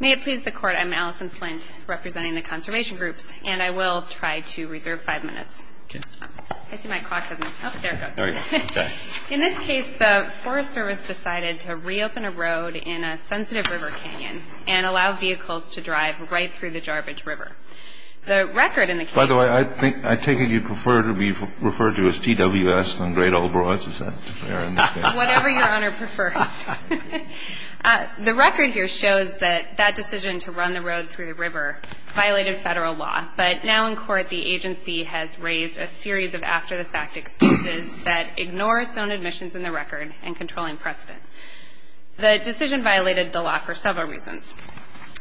May it please the Court, I'm Allison Flint, representing the Conservation Groups, and I will try to reserve five minutes. In this case, the Forest Service decided to reopen a road in a sensitive river canyon and allow vehicles to drive right through the Jarbidge River. By the way, I take it you prefer to be referred to as TWS than Great Old Broads? Whatever Your Honor prefers. The record here shows that that decision to run the road through the river violated federal law, but now in court the agency has raised a series of after-the-fact excuses that ignore its own admissions in the record and controlling precedent. The decision violated the law for several reasons.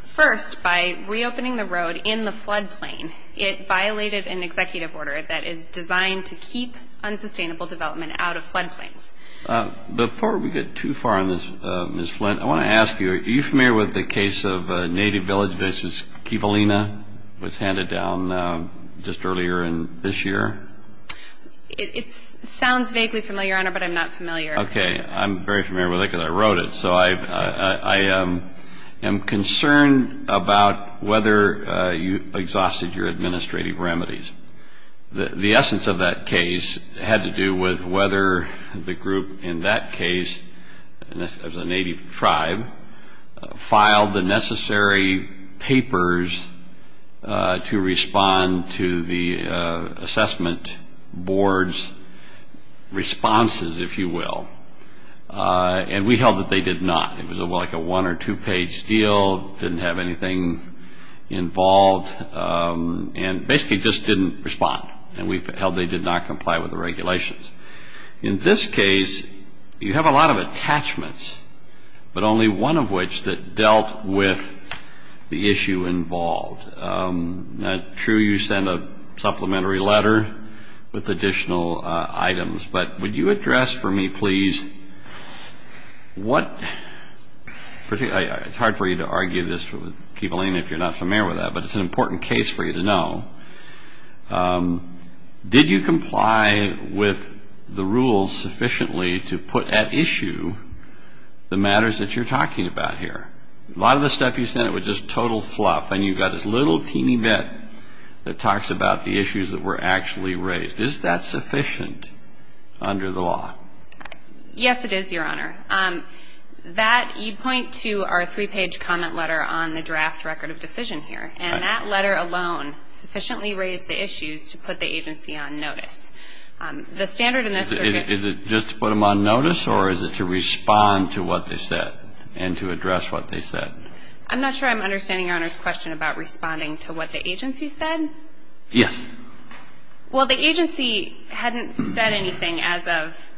First, by reopening the road in the floodplain, it violated an executive order that is designed to keep unsustainable development out of floodplains. Before we get too far on this, Ms. Flint, I want to ask you, are you familiar with the case of Native Village v. Kivalina? It was handed down just earlier this year. It sounds vaguely familiar, Your Honor, but I'm not familiar. Okay, I'm very familiar with it because I wrote it. So I am concerned about whether you exhausted your administrative remedies. The essence of that case had to do with whether the group in that case, as a Native tribe, filed the necessary papers to respond to the assessment board's responses, if you will. And we held that they did not. It was like a one- or two-page deal, didn't have anything involved, and basically just didn't respond. And we held they did not comply with the regulations. In this case, you have a lot of attachments, but only one of which that dealt with the issue involved. True, you sent a supplementary letter with additional items, but would you address for me, please, what – it's hard for you to argue this with Kivalina if you're not familiar with that, but it's an important case for you to know. Did you comply with the rules sufficiently to put at issue the matters that you're talking about here? A lot of the stuff you sent was just total fluff, and you've got this little teeny bit that talks about the issues that were actually raised. Is that sufficient under the law? Yes, it is, Your Honor. That – you point to our three-page comment letter on the draft record of decision here, and that letter alone sufficiently raised the issues to put the agency on notice. The standard in this – Is it just to put them on notice, or is it to respond to what they said and to address what they said? I'm not sure I'm understanding Your Honor's question about responding to what the agency said. Yes. Well, the agency hadn't said anything as of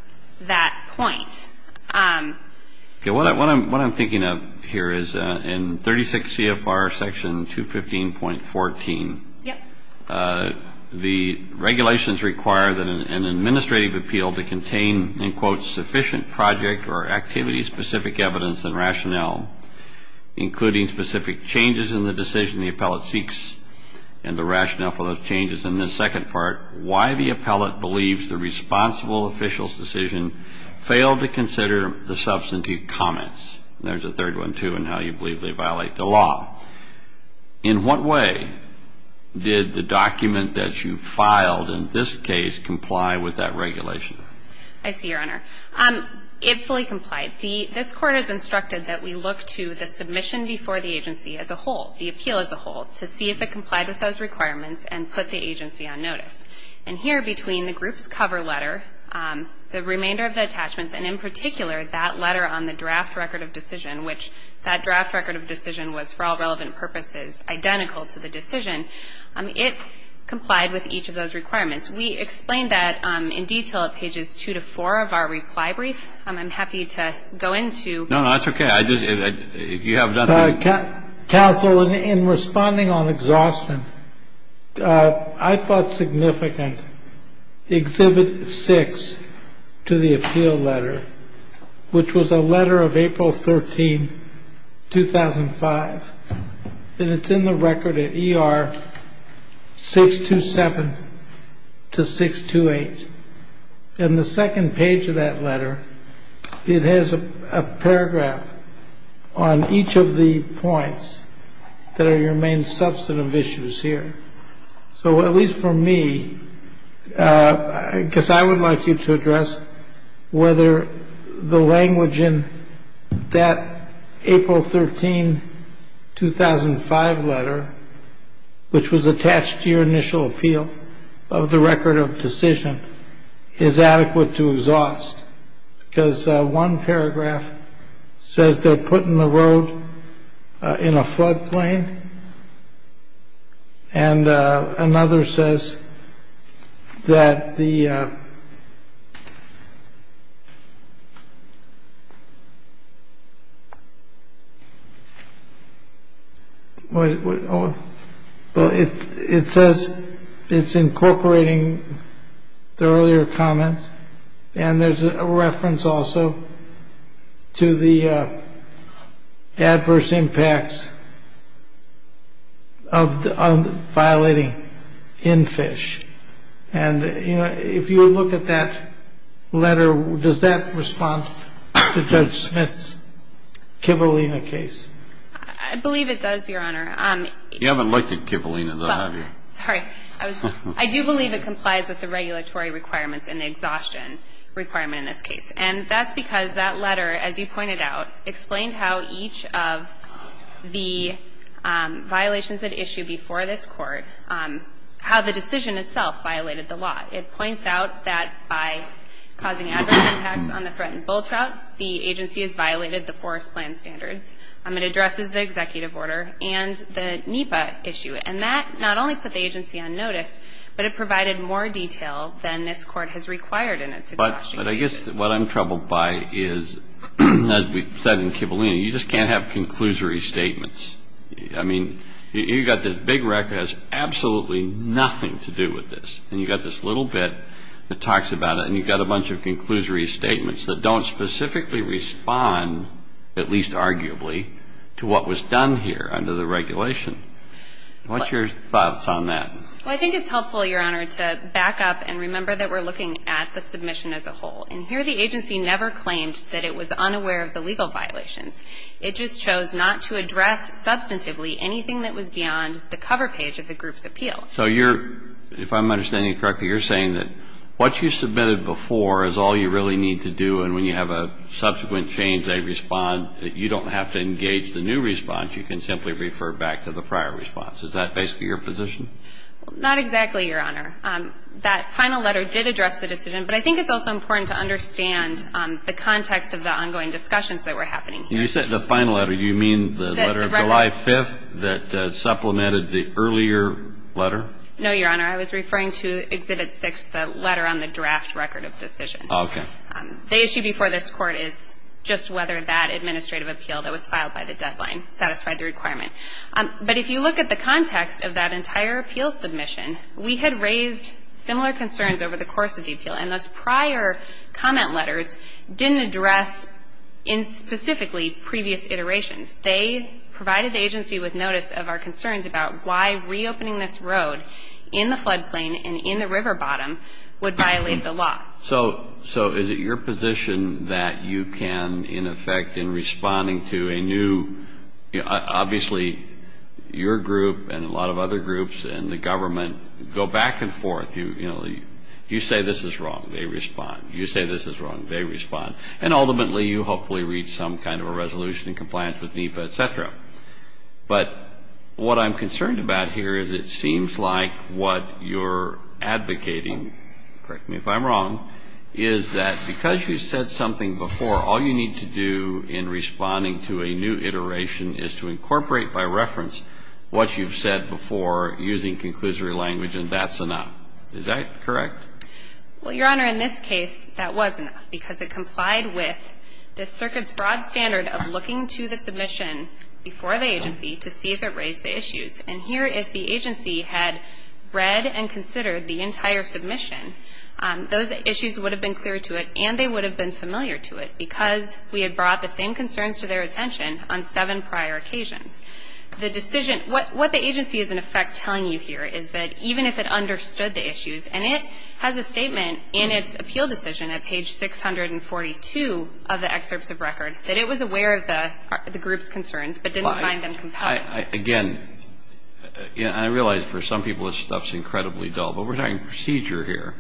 that point. Okay, what I'm thinking of here is in 36 CFR Section 215.14, the regulations require that an administrative appeal to contain, in quotes, sufficient project or activity-specific evidence and rationale, including specific changes in the decision the appellate seeks and the rationale for those changes. In this second part, why the appellate believes the responsible official's decision failed to consider the substantive comments. There's a third one, too, in how you believe they violate the law. In what way did the document that you filed in this case comply with that regulation? I see, Your Honor. It fully complied. This Court has instructed that we look to the submission before the agency as a whole, the appeal as a whole, to see if it complied with those requirements and put the agency on notice. And here, between the group's cover letter, the remainder of the attachments, and in particular that letter on the draft record of decision, which that draft record of decision was for all relevant purposes identical to the decision, it complied with each of those requirements. We explained that in detail at pages two to four of our reply brief. I'm happy to go into. No, no, that's okay. If you have nothing. Counsel, in responding on exhaustion, I thought significant Exhibit 6 to the appeal letter, which was a letter of April 13, 2005, and it's in the record at ER 627 to 628. In the second page of that letter, it has a paragraph on each of the points that are your main substantive issues here. So at least for me, I guess I would like you to address whether the language in that April 13, 2005 letter, which was attached to your initial appeal of the record of decision, is adequate to exhaust. Because one paragraph says they're putting the road in a floodplain, and another says that the. Well, it says it's incorporating the earlier comments. And there's a reference also to the adverse impacts of violating in fish. And if you look at that letter, does that respond to Judge Smith's Kivalina case? I believe it does, Your Honor. You haven't looked at Kivalina, though, have you? Sorry. I do believe it complies with the regulatory requirements and the exhaustion requirement in this case. And that's because that letter, as you pointed out, explained how each of the violations at issue before this Court, how the decision itself violated the law. It points out that by causing adverse impacts on the threatened bull trout, the agency has violated the Forest Plan standards. It addresses the executive order and the NEPA issue. And that not only put the agency on notice, but it provided more detail than this Court has required in its exhaustion case. But I guess what I'm troubled by is, as we said in Kivalina, you just can't have conclusory statements. I mean, you've got this big record that has absolutely nothing to do with this, and you've got this little bit that talks about it, and you've got a bunch of conclusory statements that don't specifically respond, at least arguably, to what was done here under the regulation. What's your thoughts on that? Well, I think it's helpful, Your Honor, to back up and remember that we're looking at the submission as a whole. And here the agency never claimed that it was unaware of the legal violations. It just chose not to address substantively anything that was beyond the cover page of the group's appeal. So you're, if I'm understanding correctly, you're saying that what you submitted before is all you really need to do, and when you have a subsequent change, they respond. You don't have to engage the new response. You can simply refer back to the prior response. Is that basically your position? Not exactly, Your Honor. That final letter did address the decision, but I think it's also important to understand the context of the ongoing discussions that were happening here. You said the final letter. Do you mean the letter of July 5th that supplemented the earlier letter? No, Your Honor. I was referring to Exhibit 6, the letter on the draft record of decision. Okay. The issue before this Court is just whether that administrative appeal that was filed by the deadline satisfied the requirement. But if you look at the context of that entire appeal submission, we had raised similar concerns over the course of the appeal, and those prior comment letters didn't address specifically previous iterations. They provided the agency with notice of our concerns about why reopening this road in the floodplain and in the river bottom would violate the law. So is it your position that you can, in effect, in responding to a new – obviously, your group and a lot of other groups in the government go back and forth. You say this is wrong. They respond. You say this is wrong. They respond. And ultimately, you hopefully reach some kind of a resolution in compliance with NEPA, et cetera. But what I'm concerned about here is it seems like what you're advocating – correct me if I'm wrong – is that because you said something before, all you need to do in responding to a new iteration is to incorporate by reference what you've said before using conclusory language, and that's enough. Is that correct? Well, Your Honor, in this case, that was enough, because it complied with the circuit's broad standard of looking to the submission before the agency to see if it raised the issues. And here, if the agency had read and considered the entire submission, those issues would have been clear to it and they would have been familiar to it because we had brought the same concerns to their attention on seven prior occasions. What the agency is, in effect, telling you here is that even if it understood the issues and it has a statement in its appeal decision at page 642 of the excerpts of record that it was aware of the group's concerns but didn't find them compelling. Again, I realize for some people this stuff's incredibly dull, but we're talking procedure here.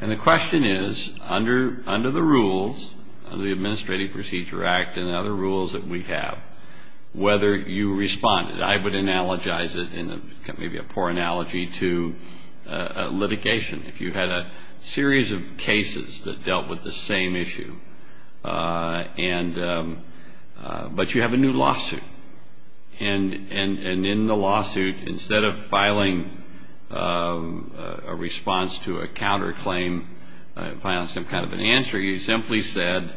And the question is, under the rules, under the Administrative Procedure Act and other rules that we have, whether you responded. I would analogize it in maybe a poor analogy to litigation. If you had a series of cases that dealt with the same issue, but you have a new lawsuit and in the lawsuit, instead of filing a response to a counterclaim, filing some kind of an answer, you simply said,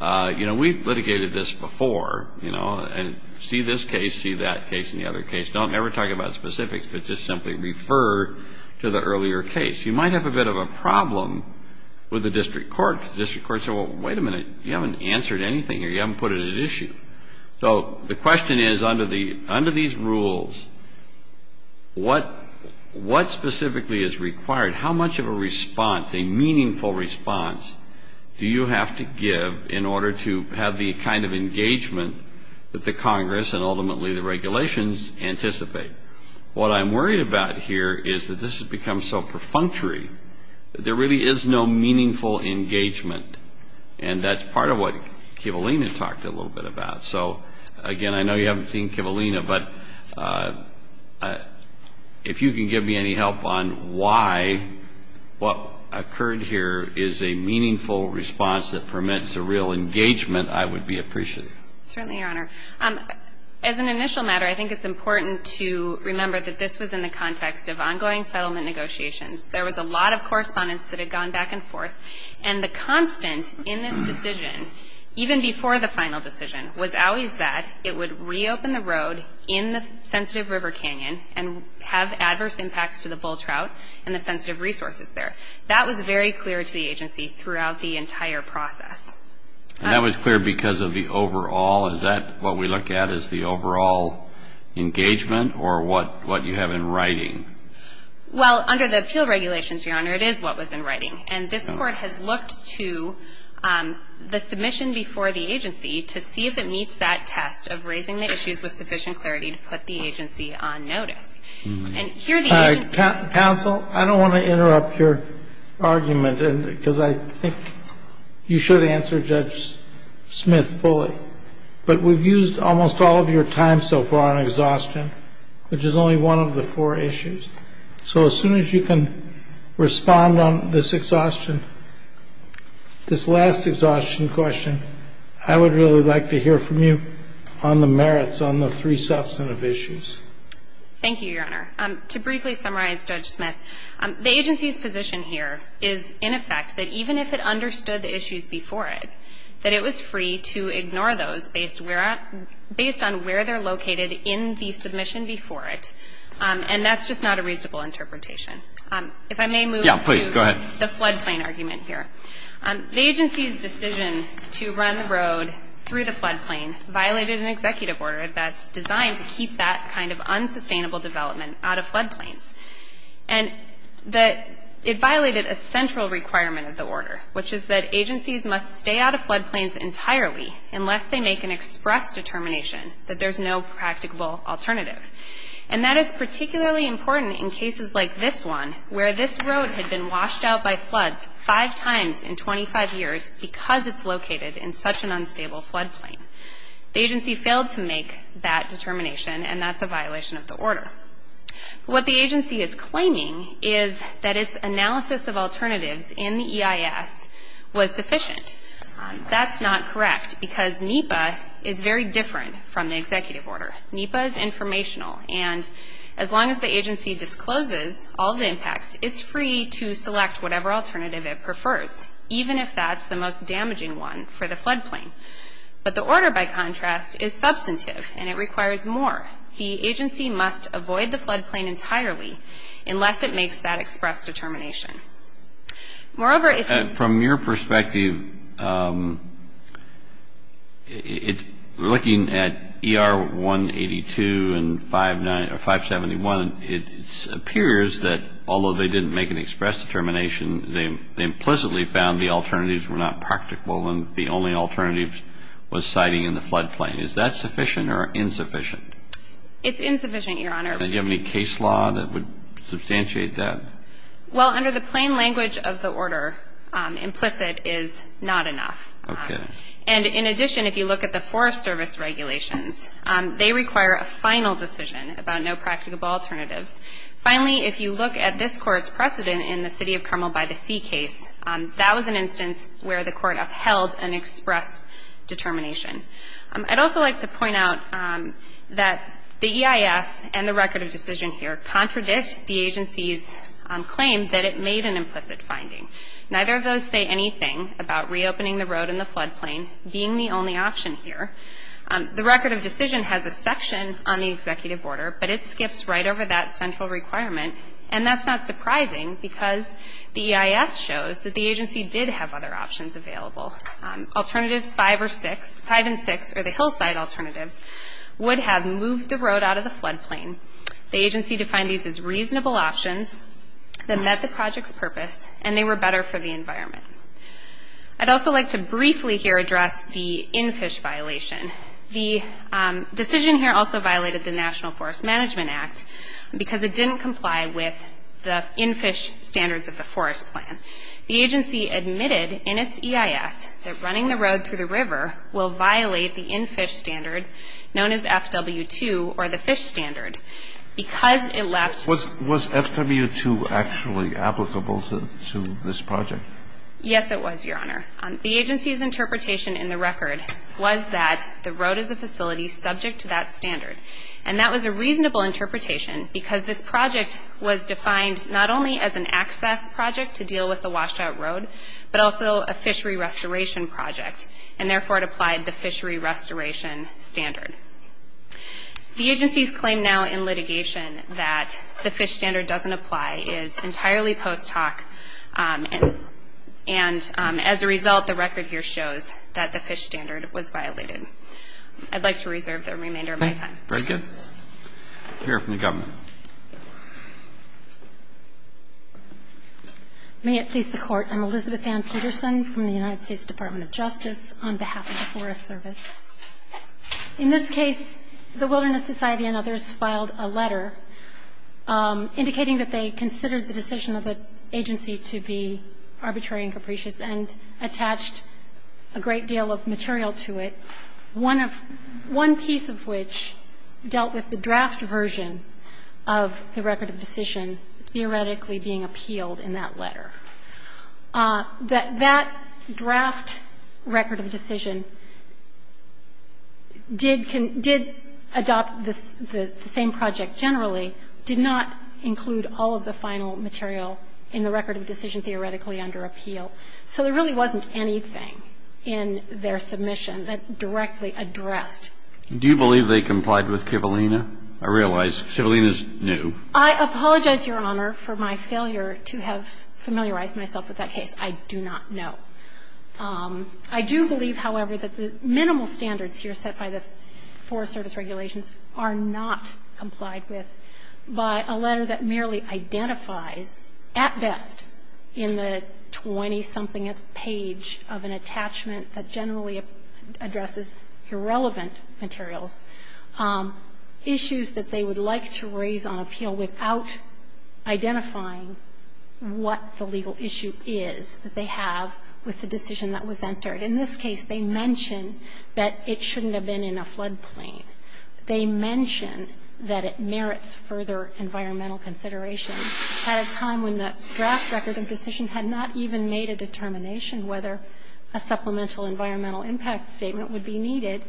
you know, we've litigated this before, you know, and see this case, see that case and the other case. Don't ever talk about specifics, but just simply refer to the earlier case. You might have a bit of a problem with the district court. The district court said, well, wait a minute. You haven't answered anything here. You haven't put it at issue. So the question is, under these rules, what specifically is required? How much of a response, a meaningful response, do you have to give in order to have the kind of engagement that the Congress and ultimately the regulations anticipate? What I'm worried about here is that this has become so perfunctory that there really is no meaningful engagement. And that's part of what Kivalina talked a little bit about. So, again, I know you haven't seen Kivalina, but if you can give me any help on why what occurred here is a meaningful response that permits a real engagement, I would be appreciative. Certainly, Your Honor. As an initial matter, I think it's important to remember that this was in the context of ongoing settlement negotiations. There was a lot of correspondence that had gone back and forth, and the constant in this decision, even before the final decision, was always that it would reopen the road in the sensitive river canyon and have adverse impacts to the bull trout and the sensitive resources there. That was very clear to the agency throughout the entire process. And that was clear because of the overall, is that what we look at as the overall engagement or what you have in writing? Well, under the appeal regulations, Your Honor, it is what was in writing. And this Court has looked to the submission before the agency to see if it meets that test of raising the issues with sufficient clarity to put the agency on notice. And here the agency ---- Counsel, I don't want to interrupt your argument, because I think you should answer Judge Smith fully. But we've used almost all of your time so far on exhaustion, which is only one of the four issues. So as soon as you can respond on this exhaustion, this last exhaustion question, I would really like to hear from you on the merits on the three substantive issues. Thank you, Your Honor. To briefly summarize Judge Smith, the agency's position here is, in effect, that even if it understood the issues before it, that it was free to ignore those based on where they're located in the submission before it. And that's just not a reasonable interpretation. If I may move to the floodplain argument here. The agency's decision to run the road through the floodplain violated an executive order that's designed to keep that kind of unsustainable development out of floodplains. And that it violated a central requirement of the order, which is that agencies must stay out of floodplains entirely unless they make an express determination that there's no practicable alternative. And that is particularly important in cases like this one, where this road had been washed out by floods five times in 25 years because it's located in such an unstable floodplain. The agency failed to make that determination, and that's a violation of the order. What the agency is claiming is that its analysis of alternatives in the EIS was sufficient. That's not correct, because NEPA is very different from the executive order. NEPA is informational, and as long as the agency discloses all the impacts, it's free to select whatever alternative it prefers, even if that's the most damaging one for the floodplain. But the order, by contrast, is substantive, and it requires more. The agency must avoid the floodplain entirely unless it makes that express determination. Moreover, if you... From your perspective, looking at ER 182 and 571, it appears that although they didn't make an express determination, they implicitly found the alternatives were not practicable and the only alternative was siting in the floodplain. Is that sufficient or insufficient? It's insufficient, Your Honor. And do you have any case law that would substantiate that? Well, under the plain language of the order, implicit is not enough. Okay. And in addition, if you look at the Forest Service regulations, they require a final decision about no practicable alternatives. Finally, if you look at this Court's precedent in the City of Carmel-by-the-Sea case, that was an instance where the Court upheld an express determination. I'd also like to point out that the EIS and the record of decision here contradict the agency's claim that it made an implicit finding. Neither of those say anything about reopening the road and the floodplain being the only option here. The record of decision has a section on the executive order, but it skips right over that central requirement, and that's not surprising because the EIS shows that the agency did have other options available. Alternatives 5 or 6, 5 and 6 are the hillside alternatives, would have moved the road out of the floodplain. The agency defined these as reasonable options that met the project's purpose, and they were better for the environment. I'd also like to briefly here address the in-fish violation. The decision here also violated the National Forest Management Act because it didn't comply with the in-fish standards of the forest plan. The agency admitted in its EIS that running the road through the river will violate the in-fish standard known as FW2 or the fish standard because it left Was FW2 actually applicable to this project? Yes, it was, Your Honor. The agency's interpretation in the record was that the road is a facility subject to that standard. And that was a reasonable interpretation because this project was defined not only as an access project to deal with the washed-out road, but also a fishery restoration project, and therefore it applied the fishery restoration standard. The agency's claim now in litigation that the fish standard doesn't apply is entirely post hoc, and as a result, the record here shows that the fish standard was violated. I'd like to reserve the remainder of my time. Very good. We'll hear from the government. May it please the Court, I'm Elizabeth Ann Peterson from the United States Department of Justice on behalf of the Forest Service. In this case, the Wilderness Society and others filed a letter indicating that they considered the decision of the agency to be arbitrary and capricious and attached a great deal of material to it, one piece of which dealt with the draft version of the record of decision theoretically being appealed in that letter. That draft record of decision did adopt the same project generally, did not include all of the final material in the record of decision theoretically under appeal. So there really wasn't anything in their submission that directly addressed. Do you believe they complied with Kivalina? I realize Kivalina's new. I apologize, Your Honor, for my failure to have familiarized myself with that case. I do not know. I do believe, however, that the minimal standards here set by the Forest Service regulations are not complied with by a letter that merely identifies, at best, in the 20-something page of an attachment that generally addresses irrelevant materials, issues that they would like to raise on appeal without identifying what the legal issue is that they have with the decision that was entered. In this case, they mention that it shouldn't have been in a floodplain. They mention that it merits further environmental consideration at a time when the draft record of decision had not even made a determination whether a supplemental environmental impact statement would be needed.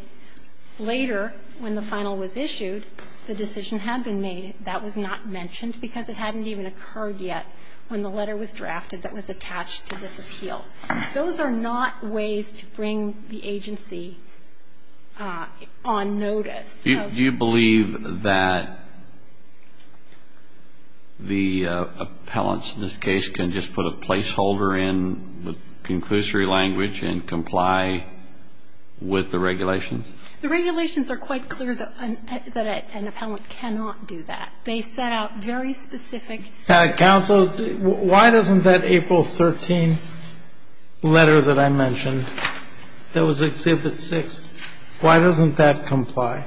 Later, when the final was issued, the decision had been made. That was not mentioned because it hadn't even occurred yet when the letter was drafted that was attached to this appeal. Those are not ways to bring the agency on notice. Do you believe that the appellants in this case can just put a placeholder in with conclusory language and comply with the regulations? The regulations are quite clear that an appellant cannot do that. They set out very specific. Counsel, why doesn't that April 13 letter that I mentioned that was Exhibit 6, why doesn't that comply?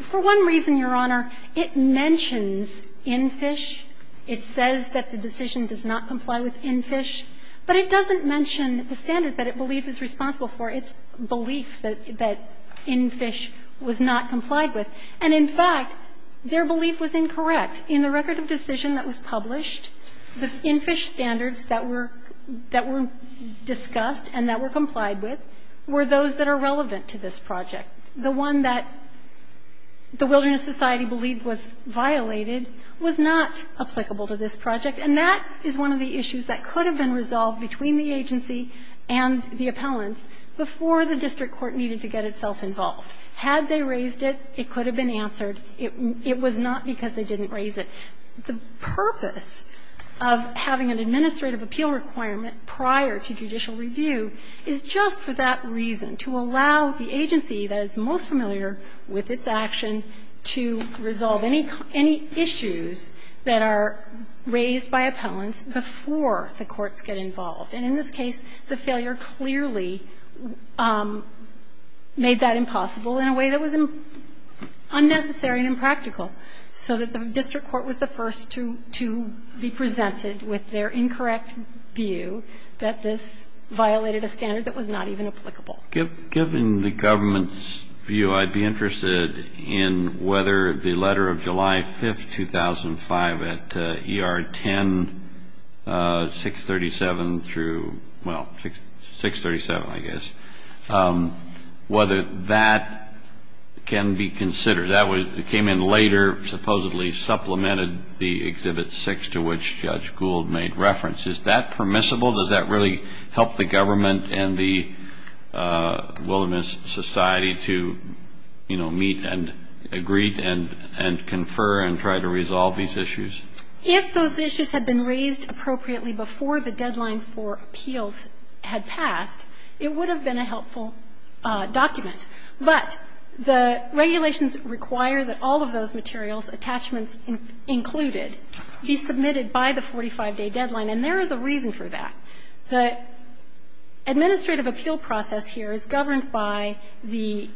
For one reason, Your Honor. It mentions INFISH. It says that the decision does not comply with INFISH. But it doesn't mention the standard that it believes is responsible for its belief that INFISH was not complied with. And in fact, their belief was incorrect. In the record of decision that was published, the INFISH standards that were discussed and that were complied with were those that are relevant to this project. The one that the Wilderness Society believed was violated was not applicable to this project. And that is one of the issues that could have been resolved between the agency and the appellants before the district court needed to get itself involved. Had they raised it, it could have been answered. It was not because they didn't raise it. The purpose of having an administrative appeal requirement prior to judicial review is just for that reason, to allow the agency that is most familiar with its action to resolve any issues that are raised by appellants before the courts get involved. And in this case, the failure clearly made that impossible in a way that was unnecessary and impractical, so that the district court was the first to be presented with their incorrect view that this violated a standard that was not even applicable. Kennedy. Given the government's view, I'd be interested in whether the letter of July 5th, 2005, at ER 10, 637 through, well, 637, I guess, whether that can be considered. That came in later, supposedly supplemented the Exhibit 6 to which Judge Gould made reference. Is that permissible? Does that really help the government and the Wilderness Society to, you know, meet and agree and confer and try to resolve these issues? If those issues had been raised appropriately before the deadline for appeals had passed, it would have been a helpful document. But the regulations require that all of those materials, attachments included, be submitted by the 45-day deadline, and there is a reason for that. The administrative appeal process here is governed by the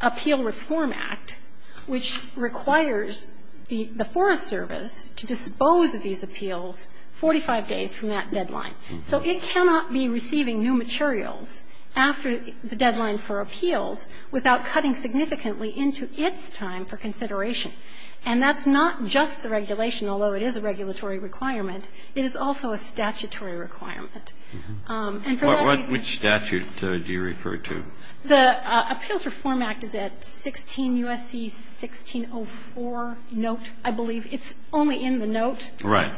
Appeal Reform Act, which requires the Forest Service to dispose of these appeals 45 days from that deadline. So it cannot be receiving new materials after the deadline for appeals without cutting significantly into its time for consideration. And that's not just the regulation, although it is a regulatory requirement. It is also a statutory requirement. And for that reason ---- Kennedy, which statute do you refer to? The Appeals Reform Act is at 16 U.S.C. 1604 note, I believe. It's only in the note. Right.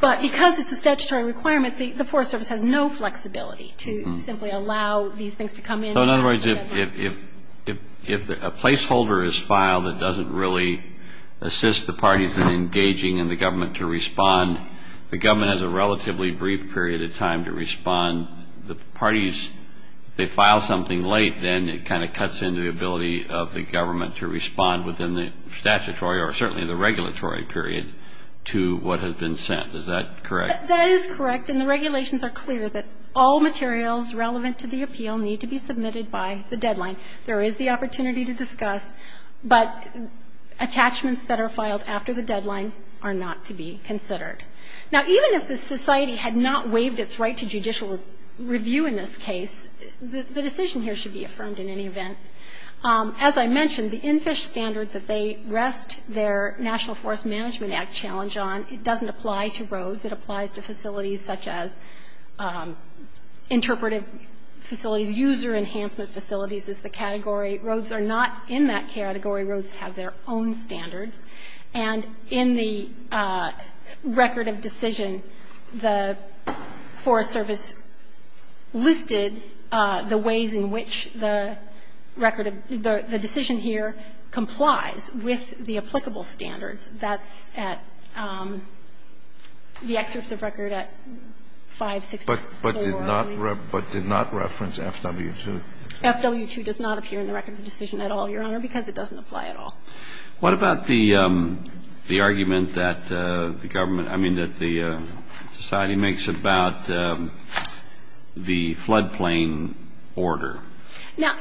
But because it's a statutory requirement, the Forest Service has no flexibility to simply allow these things to come in. So in other words, if a placeholder is filed that doesn't really assist the parties in engaging in the government to respond, the government has a relatively brief period of time to respond. The parties, if they file something late, then it kind of cuts into the ability of the government to respond within the statutory or certainly the regulatory period to what has been sent. Is that correct? That is correct. And the regulations are clear that all materials relevant to the appeal need to be submitted by the deadline. There is the opportunity to discuss, but attachments that are filed after the deadline are not to be considered. Now, even if the society had not waived its right to judicial review in this case, the decision here should be affirmed in any event. As I mentioned, the NFISH standard that they rest their National Forest Management Act challenge on, it doesn't apply to roads. It applies to facilities such as interpretive facilities, user enhancement facilities as the category. Roads are not in that category. Roads have their own standards. And in the record of decision, the Forest Service listed the ways in which the record of the decision here complies with the applicable standards. That's at the excerpts of record at 564. But did not reference FW-2? FW-2 does not appear in the record of decision at all, Your Honor, because it doesn't apply at all. What about the argument that the government, I mean, that the society makes about the floodplain order? Now,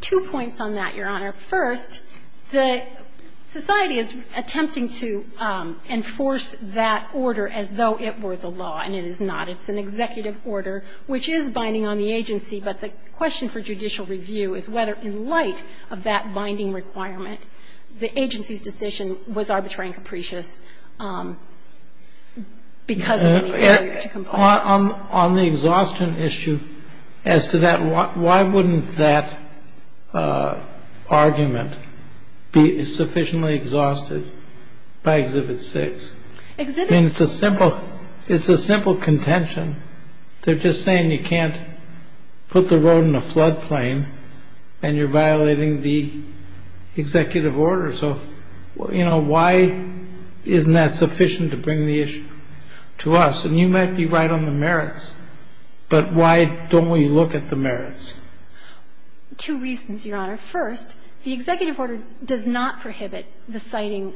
two points on that, Your Honor. First, the society is attempting to enforce that order as though it were the law, and it is not. It's an executive order which is binding on the agency. But the question for judicial review is whether, in light of that binding requirement, the agency's decision was arbitrary and capricious because of the failure to comply. On the exhaustion issue as to that, why wouldn't that argument be sufficiently exhausted by Exhibit 6? Exhibit 6. I mean, it's a simple contention. They're just saying you can't put the road in a floodplain and you're violating the executive order. So, you know, why isn't that sufficient to bring the issue to us? And you might be right on the merits, but why don't we look at the merits? Two reasons, Your Honor. First, the executive order does not prohibit the siting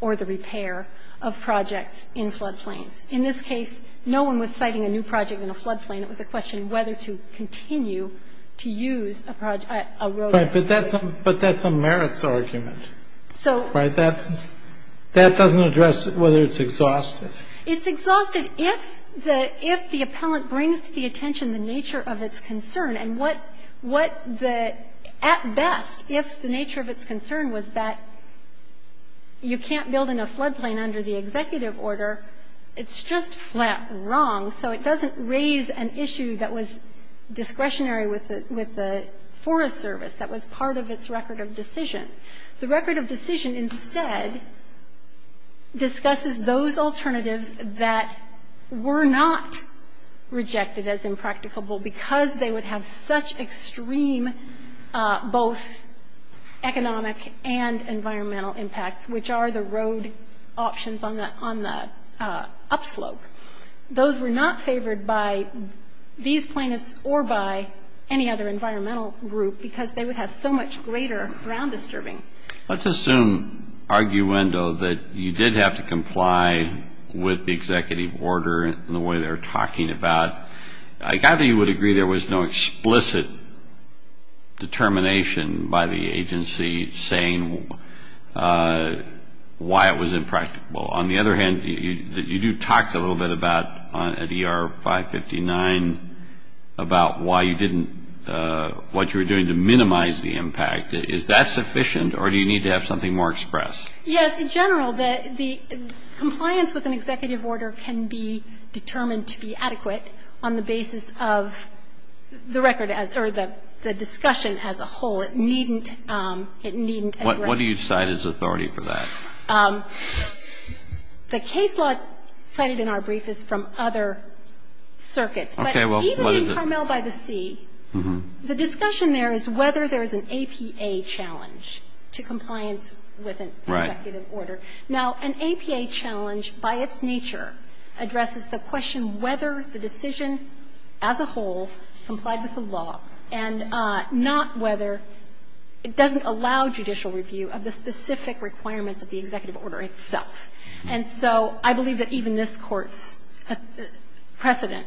or the repair of projects in floodplains. In this case, no one was siting a new project in a floodplain. It was a question of whether to continue to use a project, a road. But that's a merits argument. Right? That doesn't address whether it's exhausted. It's exhausted if the appellant brings to the attention the nature of its concern and what the at best, if the nature of its concern was that you can't build in a floodplain under the executive order. It's just flat wrong. So it doesn't raise an issue that was discretionary with the Forest Service, that was part of its record of decision. The record of decision instead discusses those alternatives that were not rejected as impracticable because they would have such extreme, both economic and environmental impacts, which are the road options on the upslope. Those were not favored by these plaintiffs or by any other environmental group because they would have so much greater ground disturbing. Let's assume, arguendo, that you did have to comply with the executive order in the way they were talking about. I gather you would agree there was no explicit determination by the agency saying why it was impracticable. On the other hand, you do talk a little bit about, at ER 559, about why you didn't, what you were doing to minimize the impact. Is that sufficient or do you need to have something more expressed? Yes. In general, the compliance with an executive order can be determined to be adequate on the basis of the record as or the discussion as a whole. It needn't address it. What do you cite as authority for that? The case law cited in our brief is from other circuits. Okay. Well, what is it? But even in Carmel v. C, the discussion there is whether there is an APA challenge to compliance with an executive order. Right. Now, an APA challenge by its nature addresses the question whether the decision as a whole complied with the law and not whether it doesn't allow judicial review of the specific requirements of the executive order itself. And so I believe that even this Court's precedent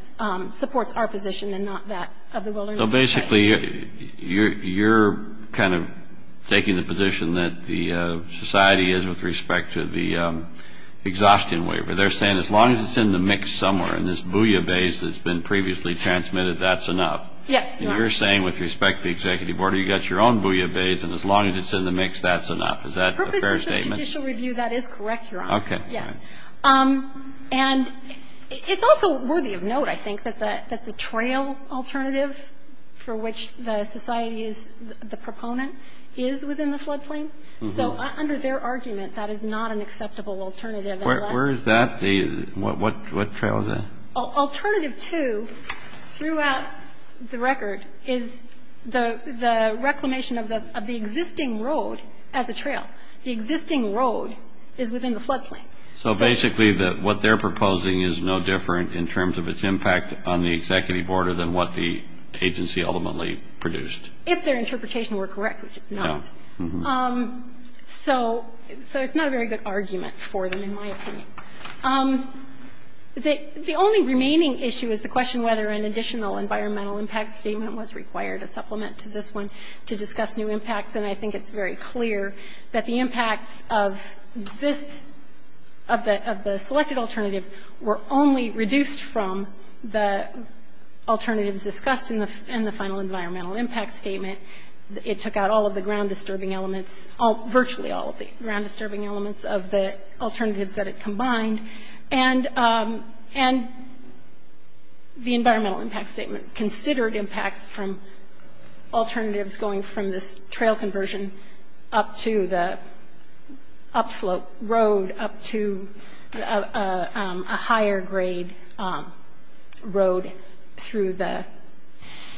supports our position and not that of the Wilderness Act. So basically, you're kind of taking the position that the society is with respect to the exhaustion waiver. They're saying as long as it's in the mix somewhere and this booyah bays that's been previously transmitted, that's enough. Yes, Your Honor. And you're saying with respect to the executive order, you've got your own booyah bays and as long as it's in the mix, that's enough. Is that a fair statement? The purpose is judicial review. That is correct, Your Honor. Okay. Yes. And it's also worthy of note, I think, that the trail alternative for which the society is the proponent is within the floodplain. So under their argument, that is not an acceptable alternative unless the road is in the floodplain. Where is that? What trail is that? Alternative 2 throughout the record is the reclamation of the existing road as a trail. The existing road is within the floodplain. So basically what they're proposing is no different in terms of its impact on the executive order than what the agency ultimately produced. If their interpretation were correct, which it's not. No. So it's not a very good argument for them, in my opinion. The only remaining issue is the question whether an additional environmental impact statement was required, a supplement to this one, to discuss new impacts. And I think it's very clear that the impacts of this, of the selected alternative were only reduced from the alternatives discussed in the final environmental impact statement. It took out all of the ground-disturbing elements, virtually all of the ground-disturbing elements of the alternatives that it combined. And the environmental impact statement considered impacts from alternatives going from this trail conversion up to the upslope road up to a higher-grade road through the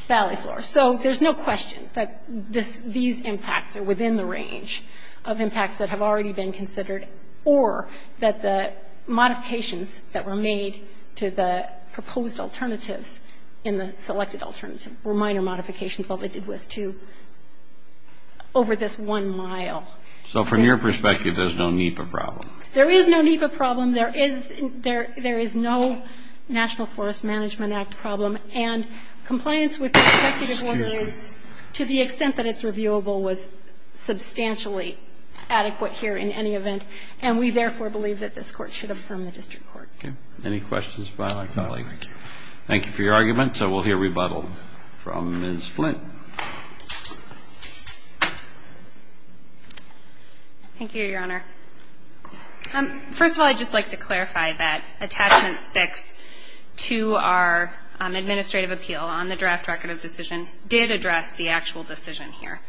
valley floor. So there's no question that these impacts are within the range of impacts that have already been considered or that the modifications that were made to the proposed alternatives in the selected alternative were minor modifications. All they did was to, over this one mile. So from your perspective, there's no NEPA problem. There is no NEPA problem. There is no National Forest Management Act problem. And compliance with the executive order is, to the extent that it's reviewable, was substantially adequate here in any event. And we, therefore, believe that this Court should affirm the district court. Okay. Any questions by my colleague? Thank you. Thank you for your argument. We'll hear rebuttal from Ms. Flint. Thank you, Your Honor. First of all, I'd just like to clarify that Attachment 6 to our administrative appeal on the draft record of decision did address the actual decision here.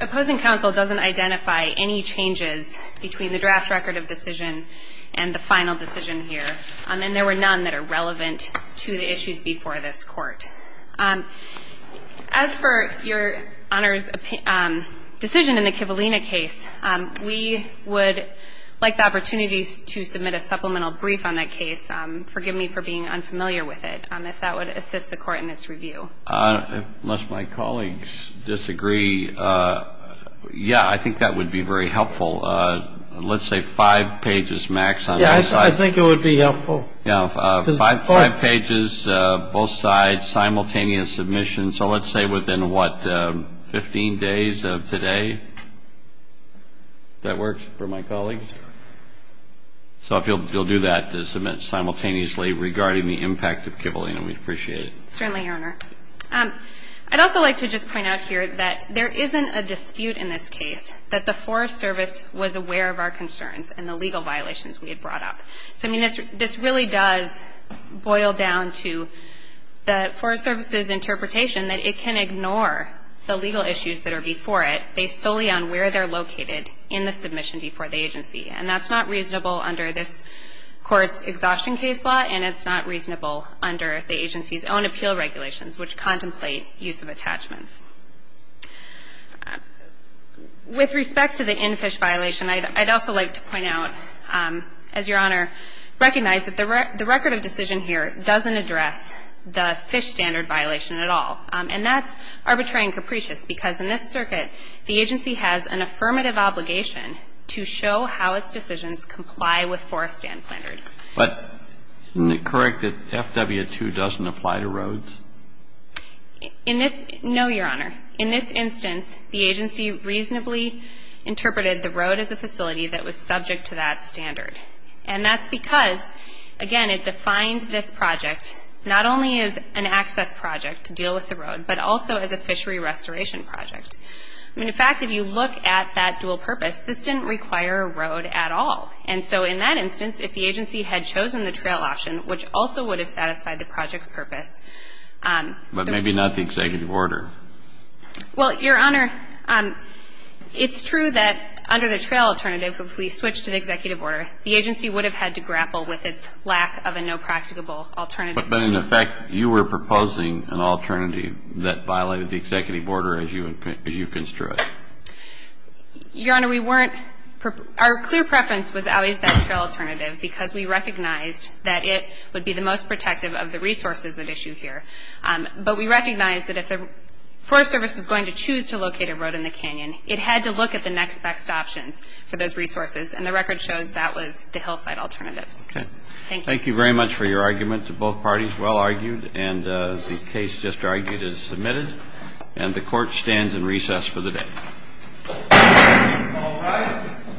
Opposing counsel doesn't identify any changes between the draft record of decision and the final decision here. And there were none that are relevant to the issues before this Court. As for Your Honor's decision in the Kivalina case, we would like the opportunity to submit a supplemental brief on that case. Forgive me for being unfamiliar with it, if that would assist the Court in its review. Unless my colleagues disagree, yeah, I think that would be very helpful. Let's say five pages max on this. I think it would be helpful. Yeah. Five pages, both sides, simultaneous submission. So let's say within, what, 15 days of today? Does that work for my colleagues? So if you'll do that to submit simultaneously regarding the impact of Kivalina, we'd appreciate it. Certainly, Your Honor. I'd also like to just point out here that there isn't a dispute in this case that the Forest Service was aware of our concerns and the legal violations we had brought up. So, I mean, this really does boil down to the Forest Service's interpretation that it can ignore the legal issues that are before it based solely on where they're located in the submission before the agency. And that's not reasonable under this Court's exhaustion case law, and it's not reasonable under the agency's own appeal regulations, which contemplate use of attachments. With respect to the in-fish violation, I'd also like to point out, as Your Honor, recognize that the record of decision here doesn't address the fish standard violation at all. And that's arbitrary and capricious, because in this circuit, the agency has an affirmative obligation to show how its decisions comply with forest standards. But isn't it correct that FW-2 doesn't apply to roads? No, Your Honor. In this instance, the agency reasonably interpreted the road as a facility that was subject to that standard. And that's because, again, it defined this project not only as an access project to deal with the road, but also as a fishery restoration project. I mean, in fact, if you look at that dual purpose, this didn't require a road at all. And so, in that instance, if the agency had chosen the trail option, which also would have satisfied the project's purpose. But maybe not the executive order. Well, Your Honor, it's true that under the trail alternative, if we switched to the executive order, the agency would have had to grapple with its lack of a no practicable alternative. But in effect, you were proposing an alternative that violated the executive order as you construed. Your Honor, we weren't – our clear preference was always that trail alternative, because we recognized that it would be the most protective of the resources at issue here. But we recognized that if the Forest Service was going to choose to locate a road in the canyon, it had to look at the next best options for those resources. And the record shows that was the hillside alternatives. Okay. Thank you. Thank you very much for your argument. Both parties well argued. And the case just argued is submitted. And the Court stands in recess for the day. All rise.